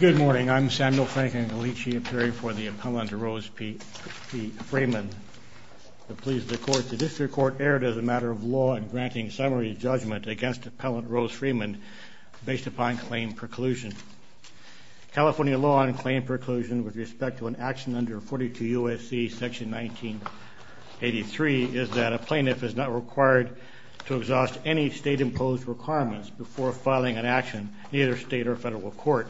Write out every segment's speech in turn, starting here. Good morning, I'm Samuel Frank and I'll each be appearing for the Appellant Rose P. Freeman to please the court. The District Court erred as a matter of law in granting summary judgment against Appellant Rose Freeman based upon claim preclusion. California law on claim preclusion with respect to an action under 42 U.S.C. section 1983 is that a plaintiff is not required to exhaust any state-imposed requirements before filing an action in either state or federal court.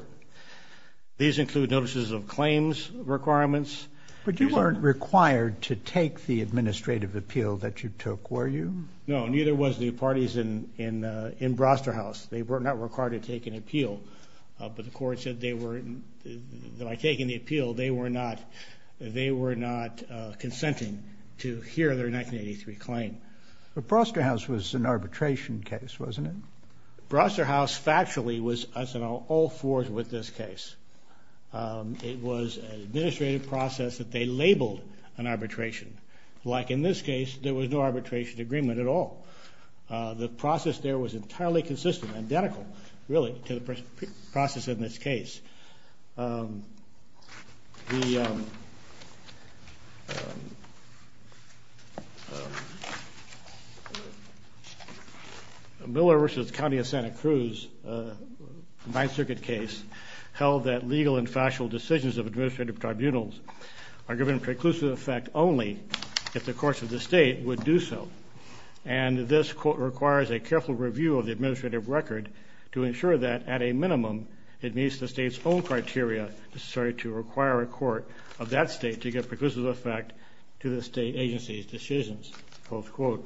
These include notices of claims requirements. But you weren't required to take the administrative appeal that you took, were you? No, neither was the parties in Broster House. They were not required to take an appeal, but the court said that by taking the appeal they were not consenting to hear their 1983 claim. But Broster House was an arbitration case, wasn't it? Broster House factually was on all fours with this case. It was an administrative process that they labeled an arbitration. Like in this case, there was no arbitration agreement at all. The process there was entirely consistent, identical really to the process in this case. Miller v. County of Santa Cruz, a Ninth Circuit case, held that legal and factual decisions of administrative tribunals are given preclusive effect only if the courts of the state would do so. And this, quote, requires a careful review of the administrative record to ensure that, at a minimum, it meets the state's own criteria necessary to require a court of that state to give preclusive effect to the state agency's decisions, unquote.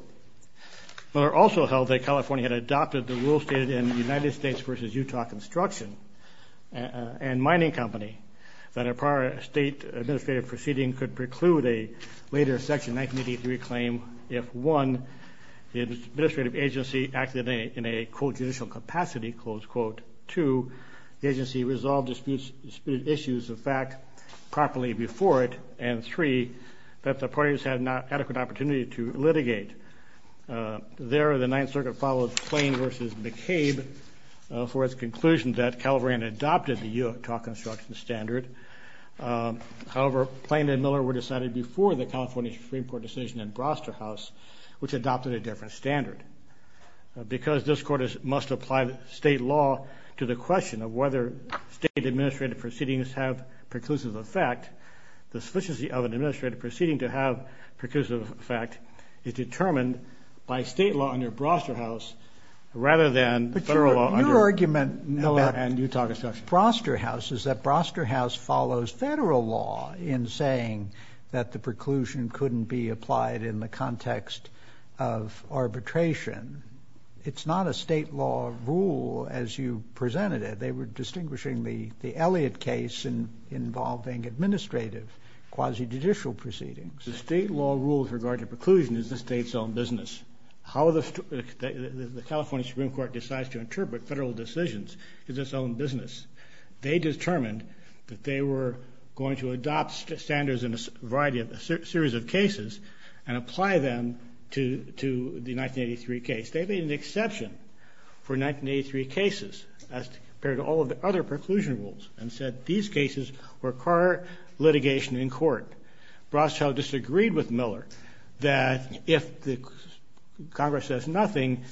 Miller also held that California had adopted the rule stated in United States v. Utah Construction and Mining Company that a prior state administrative proceeding could preclude a later Section 1983 claim if, one, the administrative agency acted in a, quote, judicial capacity, close quote. Two, the agency resolved disputed issues of fact properly before it. And three, that the parties had not adequate opportunity to litigate. There, the Ninth Circuit followed Plain v. McCabe for its conclusion that California had adopted the Utah Construction standard. However, Plain and Miller were decided before the California Supreme Court decision in Broster House, which adopted a different standard. Because this Court must apply state law to the question of whether state administrative proceedings have preclusive effect, the sufficiency of an administrative proceeding to have preclusive effect is determined by state law under Broster House rather than federal law under Utah Construction. The problem with Broster House is that Broster House follows federal law in saying that the preclusion couldn't be applied in the context of arbitration. It's not a state law rule as you presented it. They were distinguishing the Elliott case involving administrative quasi-judicial proceedings. The state law rule with regard to preclusion is the state's own business. How the California Supreme Court decides to interpret federal decisions is its own business. They determined that they were going to adopt standards in a series of cases and apply them to the 1983 case. They made an exception for 1983 cases as compared to all of the other preclusion rules and said these cases require litigation in court. Broster House disagreed with Miller that if Congress says nothing,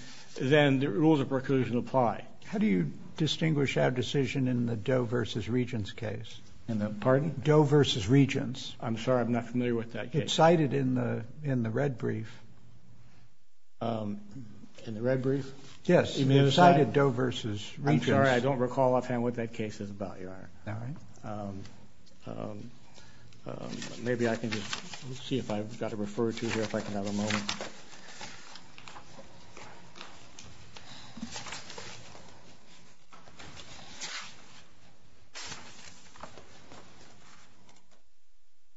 then the rules of preclusion apply. How do you distinguish our decision in the Doe v. Regents case? In the pardon? Doe v. Regents. I'm sorry. I'm not familiar with that case. It's cited in the red brief. In the red brief? Yes. Doe v. Regents. I'm sorry. I don't recall offhand what that case is about, Your Honor. All right. Well, maybe I can just see if I've got to refer to here if I can have a moment.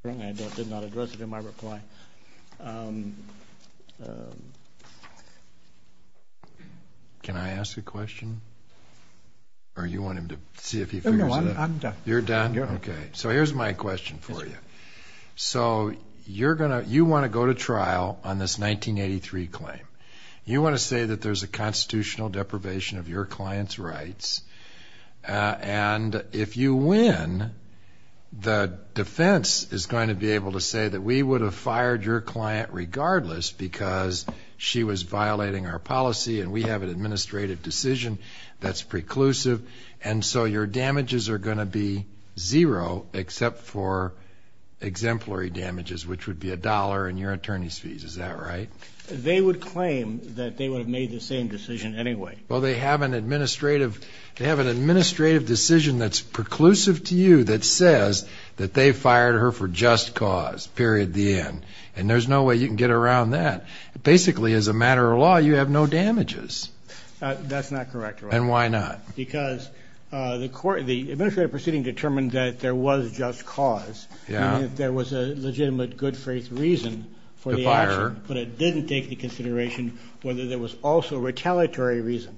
I did not address it in my reply. Can I ask a question? Or you want him to see if he figures it out? I'm done. You're done? Okay. So here's my question for you. So you want to go to trial on this 1983 claim. You want to say that there's a constitutional deprivation of your client's rights. And if you win, the defense is going to be able to say that we would have fired your client regardless because she was violating our policy and we have an administrative decision that's preclusive. And so your damages are going to be zero except for exemplary damages, which would be a dollar in your attorney's fees. Is that right? They would claim that they would have made the same decision anyway. Well, they have an administrative decision that's preclusive to you that says that they fired her for just cause, period, the end. And there's no way you can get around that. Basically, as a matter of law, you have no damages. That's not correct, Your Honor. And why not? Because the administrative proceeding determined that there was just cause and that there was a legitimate good faith reason for the action. But it didn't take into consideration whether there was also retaliatory reason.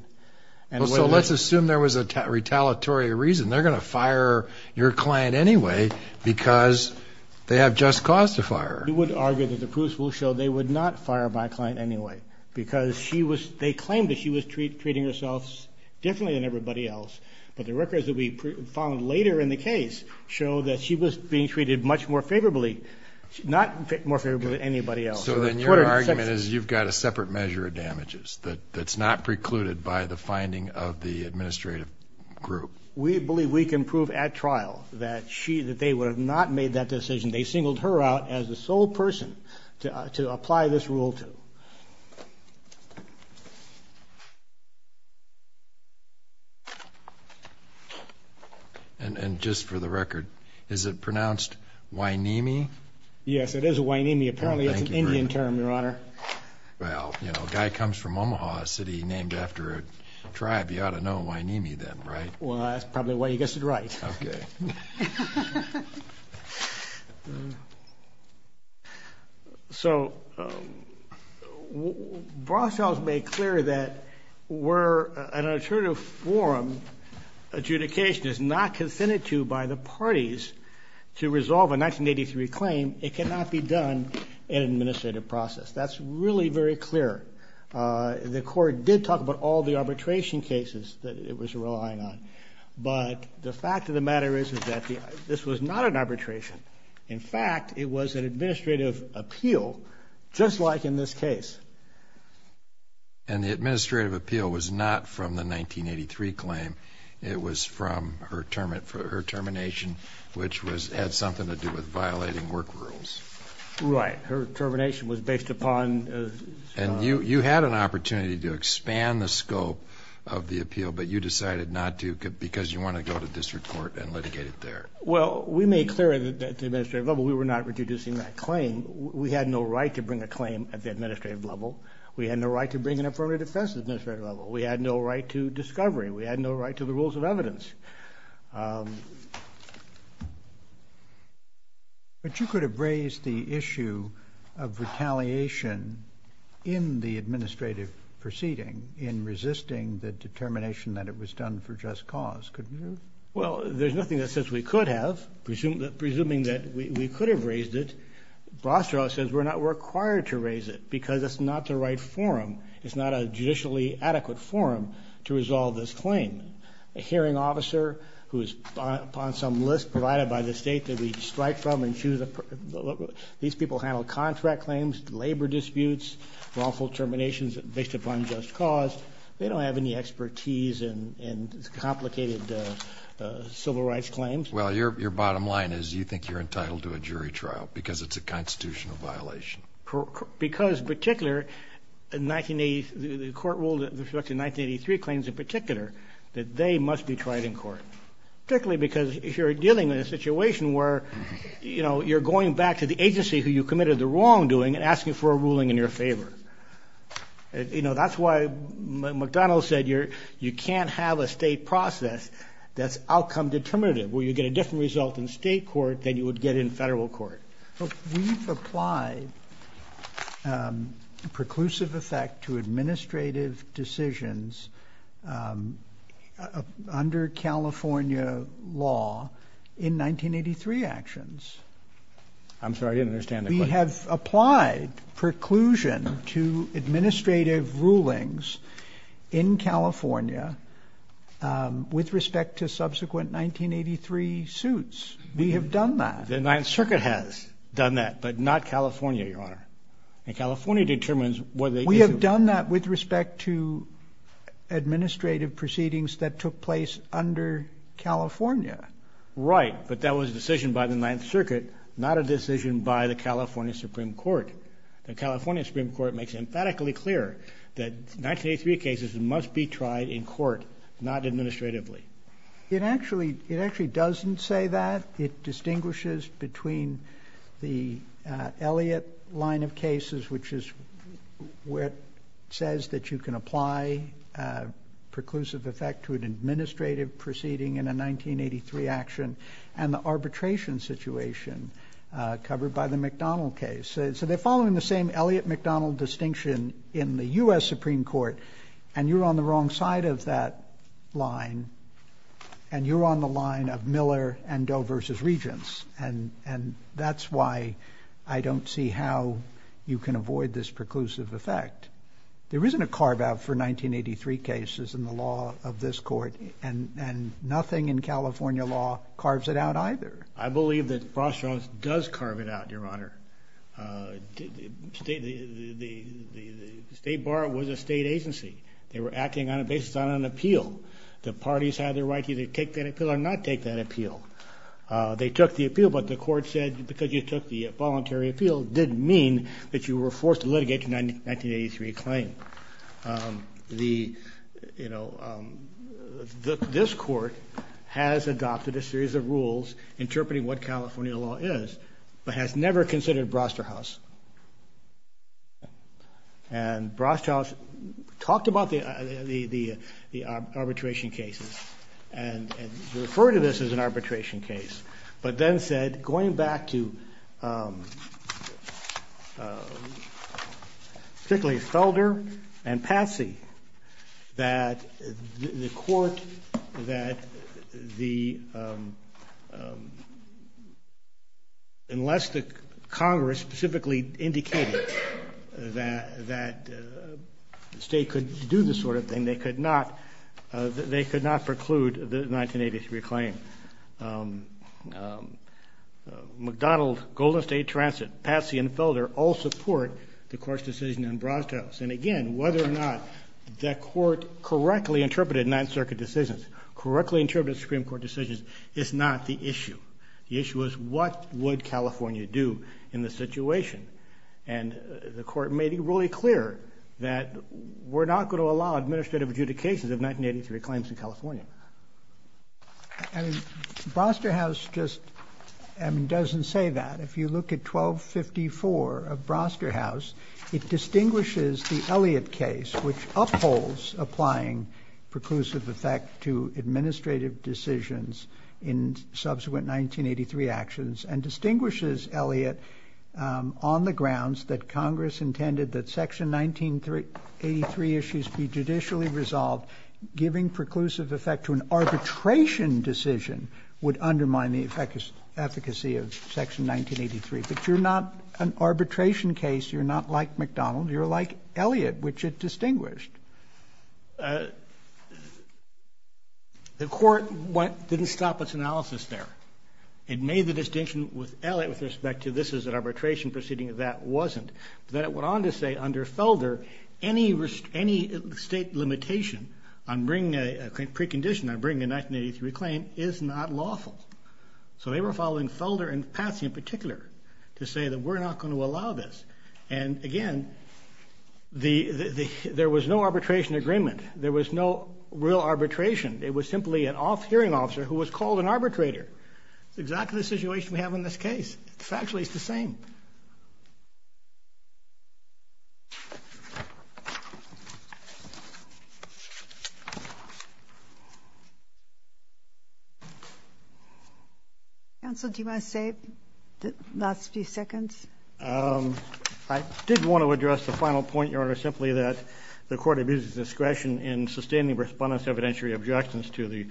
So let's assume there was a retaliatory reason. They're going to fire your client anyway because they have just cause to fire her. We would argue that the proofs will show they would not fire my client anyway because they claimed that she was treating herself differently than everybody else. But the records that we found later in the case show that she was being treated much more favorably, not more favorably than anybody else. So then your argument is you've got a separate measure of damages that's not precluded by the finding of the administrative group. We believe we can prove at trial that they would have not made that decision. They singled her out as the sole person to apply this rule to. And just for the record, is it pronounced Wyn-ee-mee? Yes, it is Wyn-ee-mee. Apparently it's an Indian term, Your Honor. Well, you know, a guy comes from Omaha City named after a tribe. You ought to know Wyn-ee-mee then, right? Well, that's probably why you guessed it right. Okay. So Broshouse made clear that where an alternative forum adjudication is not consented to by the parties to resolve a 1983 claim, it cannot be done in an administrative process. That's really very clear. The court did talk about all the arbitration cases that it was relying on. But the fact of the matter is, is that this was not an arbitration. In fact, it was an administrative appeal, just like in this case. And the administrative appeal was not from the 1983 claim. It was from her termination, which had something to do with violating work rules. Right. Her termination was based upon the... And you had an opportunity to expand the scope of the appeal, but you decided not to because you wanted to go to district court and litigate it there. Well, we made clear at the administrative level we were not reducing that claim. We had no right to bring a claim at the administrative level. We had no right to bring an affirmative defense at the administrative level. We had no right to discovery. We had no right to the rules of evidence. But you could have raised the issue of retaliation in the administrative proceeding in resisting the determination that it was done for just cause, couldn't you? Well, there's nothing that says we could have. Presuming that we could have raised it, Brostrow says we're not required to raise it because it's not the right forum. It's not a judicially adequate forum to resolve this claim. A hearing officer who is upon some list provided by the state that we strike from and choose a... These people handle contract claims, labor disputes, wrongful terminations based upon just cause. They don't have any expertise in complicated civil rights claims. Well, your bottom line is you think you're entitled to a jury trial because it's a constitutional violation. Because, in particular, the court ruled in respect to 1983 claims in particular that they must be tried in court. Particularly because if you're dealing in a situation where, you know, you're going back to the agency who you committed the wrongdoing and asking for a ruling in your favor. You know, that's why McDonnell said you can't have a state process that's outcome determinative, where you get a different result in state court than you would get in federal court. But we've applied preclusive effect to administrative decisions under California law in 1983 actions. I'm sorry, I didn't understand the question. We have applied preclusion to administrative rulings in California with respect to subsequent 1983 suits. We have done that. The Ninth Circuit has done that, but not California, Your Honor. And California determines whether it is. We have done that with respect to administrative proceedings that took place under California. Right. But that was a decision by the Ninth Circuit, not a decision by the California Supreme Court. The California Supreme Court makes emphatically clear that 1983 cases must be tried in court, not administratively. It actually doesn't say that. It distinguishes between the Elliott line of cases, which is where it says that you can apply preclusive effect to an administrative proceeding in a 1983 action, and the arbitration situation covered by the McDonnell case. So they're following the same Elliott-McDonnell distinction in the U.S. Supreme Court, and you're on the wrong side of that line, and you're on the line of Miller and Doe v. Regents, and that's why I don't see how you can avoid this preclusive effect. There isn't a carve-out for 1983 cases in the law of this court, and nothing in California law carves it out either. I believe that Brostrom does carve it out, Your Honor. The State Bar was a state agency. They were acting on a basis on an appeal. The parties had the right to either take that appeal or not take that appeal. They took the appeal, but the court said because you took the voluntary appeal, it didn't mean that you were forced to litigate the 1983 claim. The, you know, this court has adopted a series of rules interpreting what California law is, but has never considered Brosterhouse. And Brosterhouse talked about the arbitration cases and referred to this as an arbitration case, but then said going back to particularly Felder and Patsy, that the court, that the, unless the Congress specifically indicated that the state could do this sort of thing, they could not preclude the 1983 claim. McDonald, Golden State Transit, Patsy, and Felder all support the court's decision on Brosterhouse. And, again, whether or not that court correctly interpreted Ninth Circuit decisions, correctly interpreted Supreme Court decisions is not the issue. The issue is what would California do in this situation. And the court made it really clear that we're not going to allow administrative adjudicate cases of 1983 claims in California. I mean, Brosterhouse just doesn't say that. If you look at 1254 of Brosterhouse, it distinguishes the Elliott case, which upholds applying preclusive effect to administrative decisions in subsequent 1983 actions and distinguishes Elliott on the grounds that Congress intended that Section 1983 issues be judicially resolved, giving preclusive effect to an arbitration decision would undermine the efficacy of Section 1983. But you're not an arbitration case. You're not like McDonald. You're like Elliott, which it distinguished. The court didn't stop its analysis there. It made the distinction with Elliott with respect to this is an arbitration proceeding. That wasn't. Then it went on to say under Felder any state limitation on bringing a precondition, on bringing a 1983 claim, is not lawful. So they were following Felder and Patsy in particular to say that we're not going to allow this. And, again, there was no arbitration agreement. There was no real arbitration. It was simply an off-hearing officer who was called an arbitrator. It's exactly the situation we have in this case. Factually, it's the same. Counsel, do you want to say the last few seconds? The court abused its discretion in sustaining respondents' evidentiary objections to the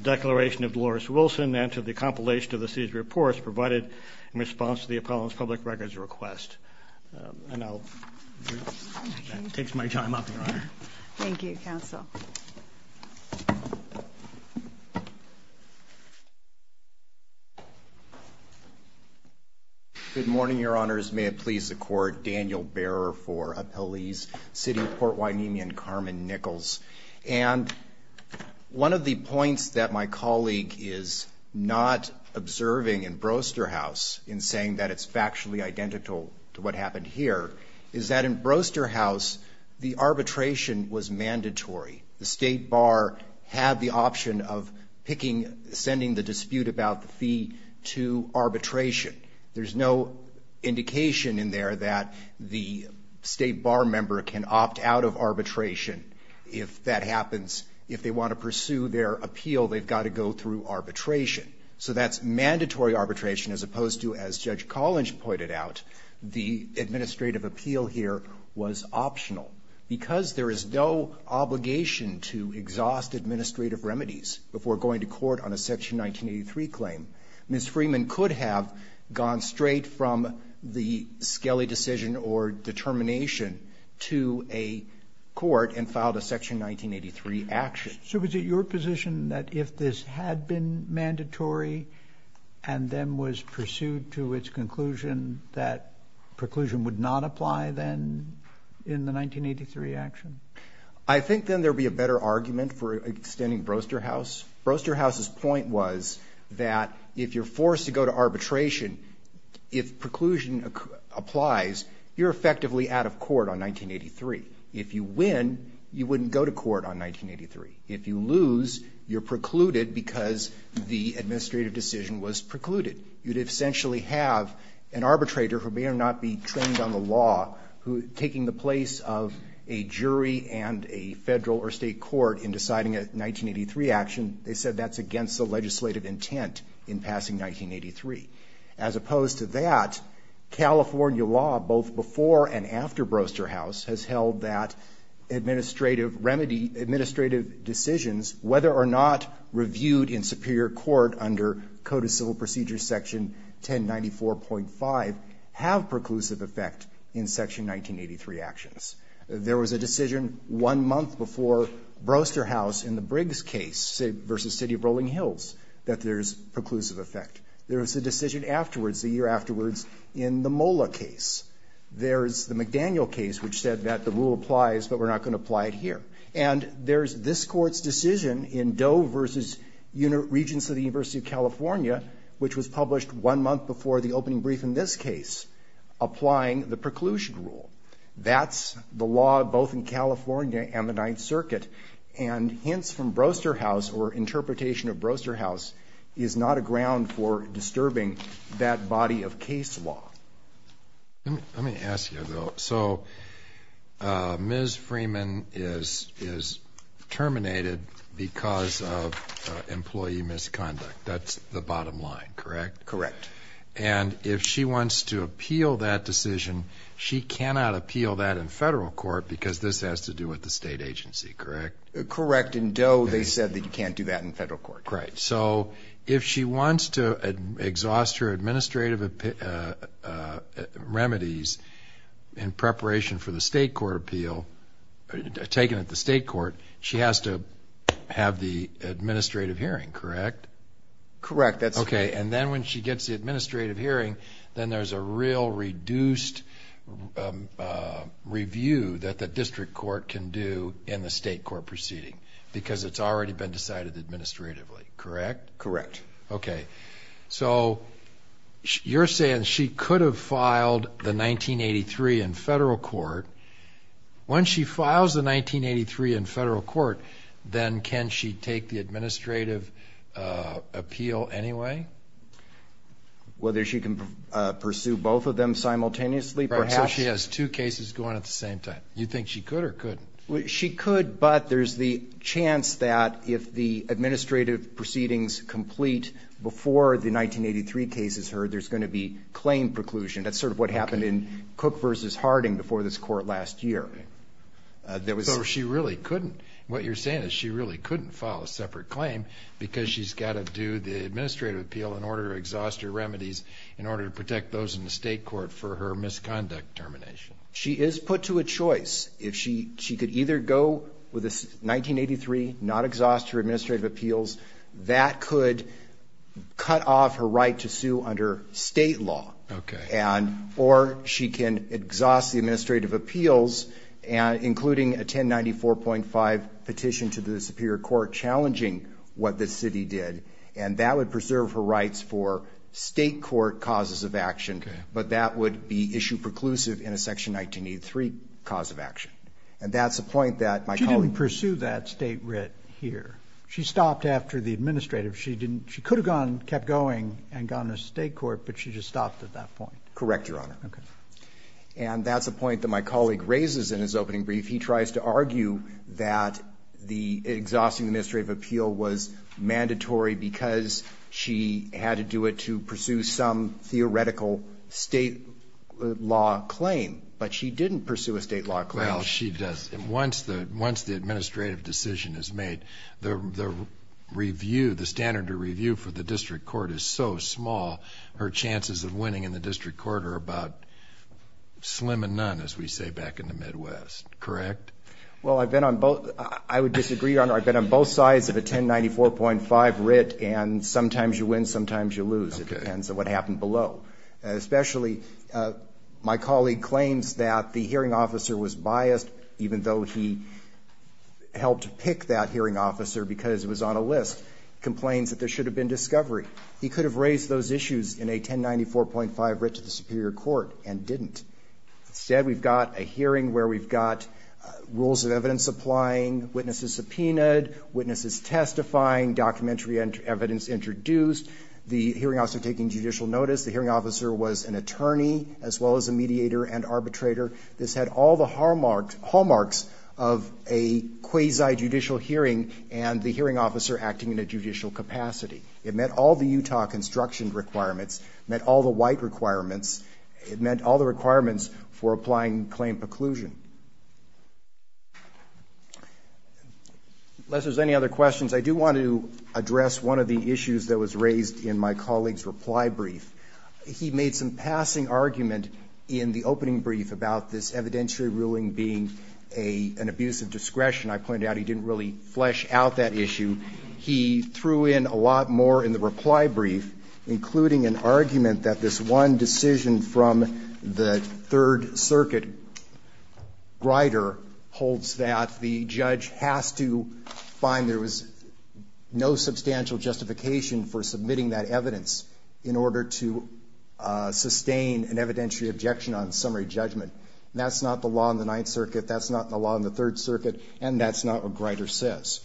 declaration of Dolores Wilson and to the compilation of the city's reports provided in response to the appellant's public records request. And that takes my time up, Your Honor. Thank you, Counsel. Good morning, Your Honors. May it please the Court. Daniel Bearer for Appellees, City of Port Hueneme and Carmen Nichols. And one of the points that my colleague is not observing in Broster House in saying that it's factually identical to what happened here is that in Broster House the arbitration was mandatory. The State Bar had the option of picking, sending the dispute about the fee to arbitration. There's no indication in there that the State Bar member can opt out of arbitration if that happens. If they want to pursue their appeal, they've got to go through arbitration. So that's mandatory arbitration as opposed to, as Judge Collins pointed out, the administrative appeal here was optional. Because there is no obligation to exhaust administrative remedies before going to court on a Section 1983 claim, Ms. Freeman could have gone straight from the Skelly decision or determination to a court and filed a Section 1983 action. So was it your position that if this had been mandatory and then was pursued to its conclusion that preclusion would not apply then in the 1983 action? I think then there would be a better argument for extending Broster House. Broster House's point was that if you're forced to go to arbitration, if preclusion applies, you're effectively out of court on 1983. If you win, you wouldn't go to court on 1983. If you lose, you're precluded because the administrative decision was precluded. You'd essentially have an arbitrator who may or may not be trained on the law taking the place of a jury and a federal or state court in deciding a 1983 action. They said that's against the legislative intent in passing 1983. As opposed to that, California law, both before and after Broster House, has held that administrative remedy, administrative decisions, whether or not reviewed in superior court under Code of Civil Procedure Section 1094.5, have preclusive effect in Section 1983 actions. There was a decision one month before Broster House in the Briggs case v. City of Rolling Hills that there's preclusive effect. There was a decision afterwards, a year afterwards, in the Mola case. There's the McDaniel case which said that the rule applies, but we're not going to apply it here. And there's this Court's decision in Doe v. Regents of the University of California, which was published one month before the opening brief in this case, applying the preclusion rule. That's the law both in California and the Ninth Circuit. And hints from Broster House or interpretation of Broster House is not a ground for disturbing that body of case law. Let me ask you, though. So Ms. Freeman is terminated because of employee misconduct. That's the bottom line, correct? Correct. And if she wants to appeal that decision, she cannot appeal that in federal court because this has to do with the state agency, correct? Correct. In Doe, they said that you can't do that in federal court. Right. So if she wants to exhaust her administrative remedies in preparation for the state court appeal, taken at the state court, she has to have the administrative hearing, correct? Correct. Okay, and then when she gets the administrative hearing, then there's a real reduced review that the district court can do in the state court proceeding because it's already been decided administratively, correct? Correct. Okay. So you're saying she could have filed the 1983 in federal court. Once she files the 1983 in federal court, then can she take the administrative appeal anyway? Whether she can pursue both of them simultaneously, perhaps. Right, so she has two cases going at the same time. You think she could or couldn't? She could, but there's the chance that if the administrative proceedings complete before the 1983 case is heard, there's going to be claim preclusion. That's sort of what happened in Cook v. Harding before this court last year. So she really couldn't. What you're saying is she really couldn't file a separate claim because she's got to do the administrative appeal in order to exhaust her remedies in order to protect those in the state court for her misconduct termination. She is put to a choice. If she could either go with the 1983, not exhaust her administrative appeals, that could cut off her right to sue under State law. Okay. Or she can exhaust the administrative appeals, including a 1094.5 petition to the Superior Court challenging what the city did, and that would preserve her rights for State court causes of action. Okay. But that would be issue preclusive in a section 1983 cause of action. And that's the point that my colleague ---- She didn't pursue that State writ here. She stopped after the administrative. She didn't ---- she could have gone, kept going, and gone to State court, but she just stopped at that point. Correct, Your Honor. Okay. And that's a point that my colleague raises in his opening brief. He tries to argue that the exhausting administrative appeal was mandatory because she had to do it to pursue some theoretical State law claim. But she didn't pursue a State law claim. Well, she does. Once the administrative decision is made, the review, the standard to review for the district court is so small, her chances of winning in the district court are about slim and none, as we say back in the Midwest. Correct? Well, I've been on both sides of a 1094.5 writ, and sometimes you win, sometimes you lose. Okay. It depends on what happened below. Especially my colleague claims that the hearing officer was biased, even though he helped pick that hearing officer because it was on a list, complains that there should have been discovery. He could have raised those issues in a 1094.5 writ to the superior court and didn't. Instead, we've got a hearing where we've got rules of evidence applying, witnesses subpoenaed, witnesses testifying, documentary evidence introduced. The hearing officer taking judicial notice. The hearing officer was an attorney as well as a mediator and arbitrator. This had all the hallmarks of a quasi-judicial hearing and the hearing officer acting in a judicial capacity. It met all the Utah construction requirements, met all the white requirements. It met all the requirements for applying claim preclusion. Unless there's any other questions, I do want to address one of the issues that was raised in my colleague's reply brief. He made some passing argument in the opening brief about this evidentiary ruling being an abuse of discretion. I pointed out he didn't really flesh out that issue. He threw in a lot more in the reply brief, including an argument that this one decision from the Third Circuit, Grider, holds that the judge has to find there was no substantial justification for submitting that evidence in order to sustain an evidentiary objection on summary judgment. That's not the law in the Ninth Circuit. That's not the law in the Third Circuit. And that's not what Grider says.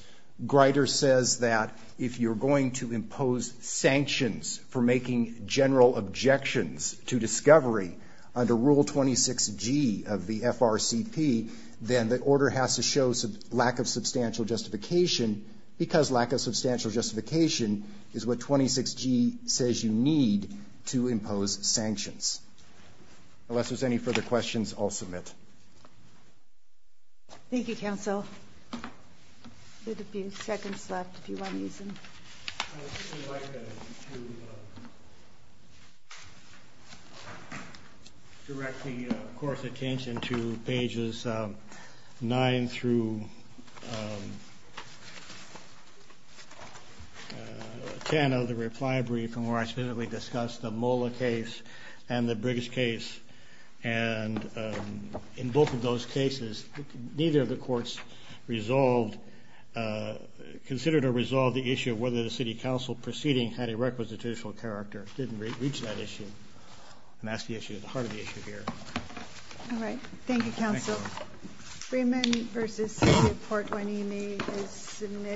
Grider says that if you're going to impose sanctions for making general objections to discovery under Rule 26G of the FRCP, then the order has to show lack of substantial justification because lack of substantial justification is what 26G says you need to impose sanctions. Unless there's any further questions, I'll submit. Thank you, counsel. We have a few seconds left if you want to use them. I would just like to direct the Court's attention to pages 9 through 10 of the reply brief in which I specifically discussed the Mola case and the Briggs case. And in both of those cases, neither of the courts considered or resolved the issue of whether the City Council proceeding had a requisitational character. It didn't reach that issue. And that's the issue at the heart of the issue here. All right. Thank you, counsel. Thank you. Freeman v. City of Port Guiney is submitted.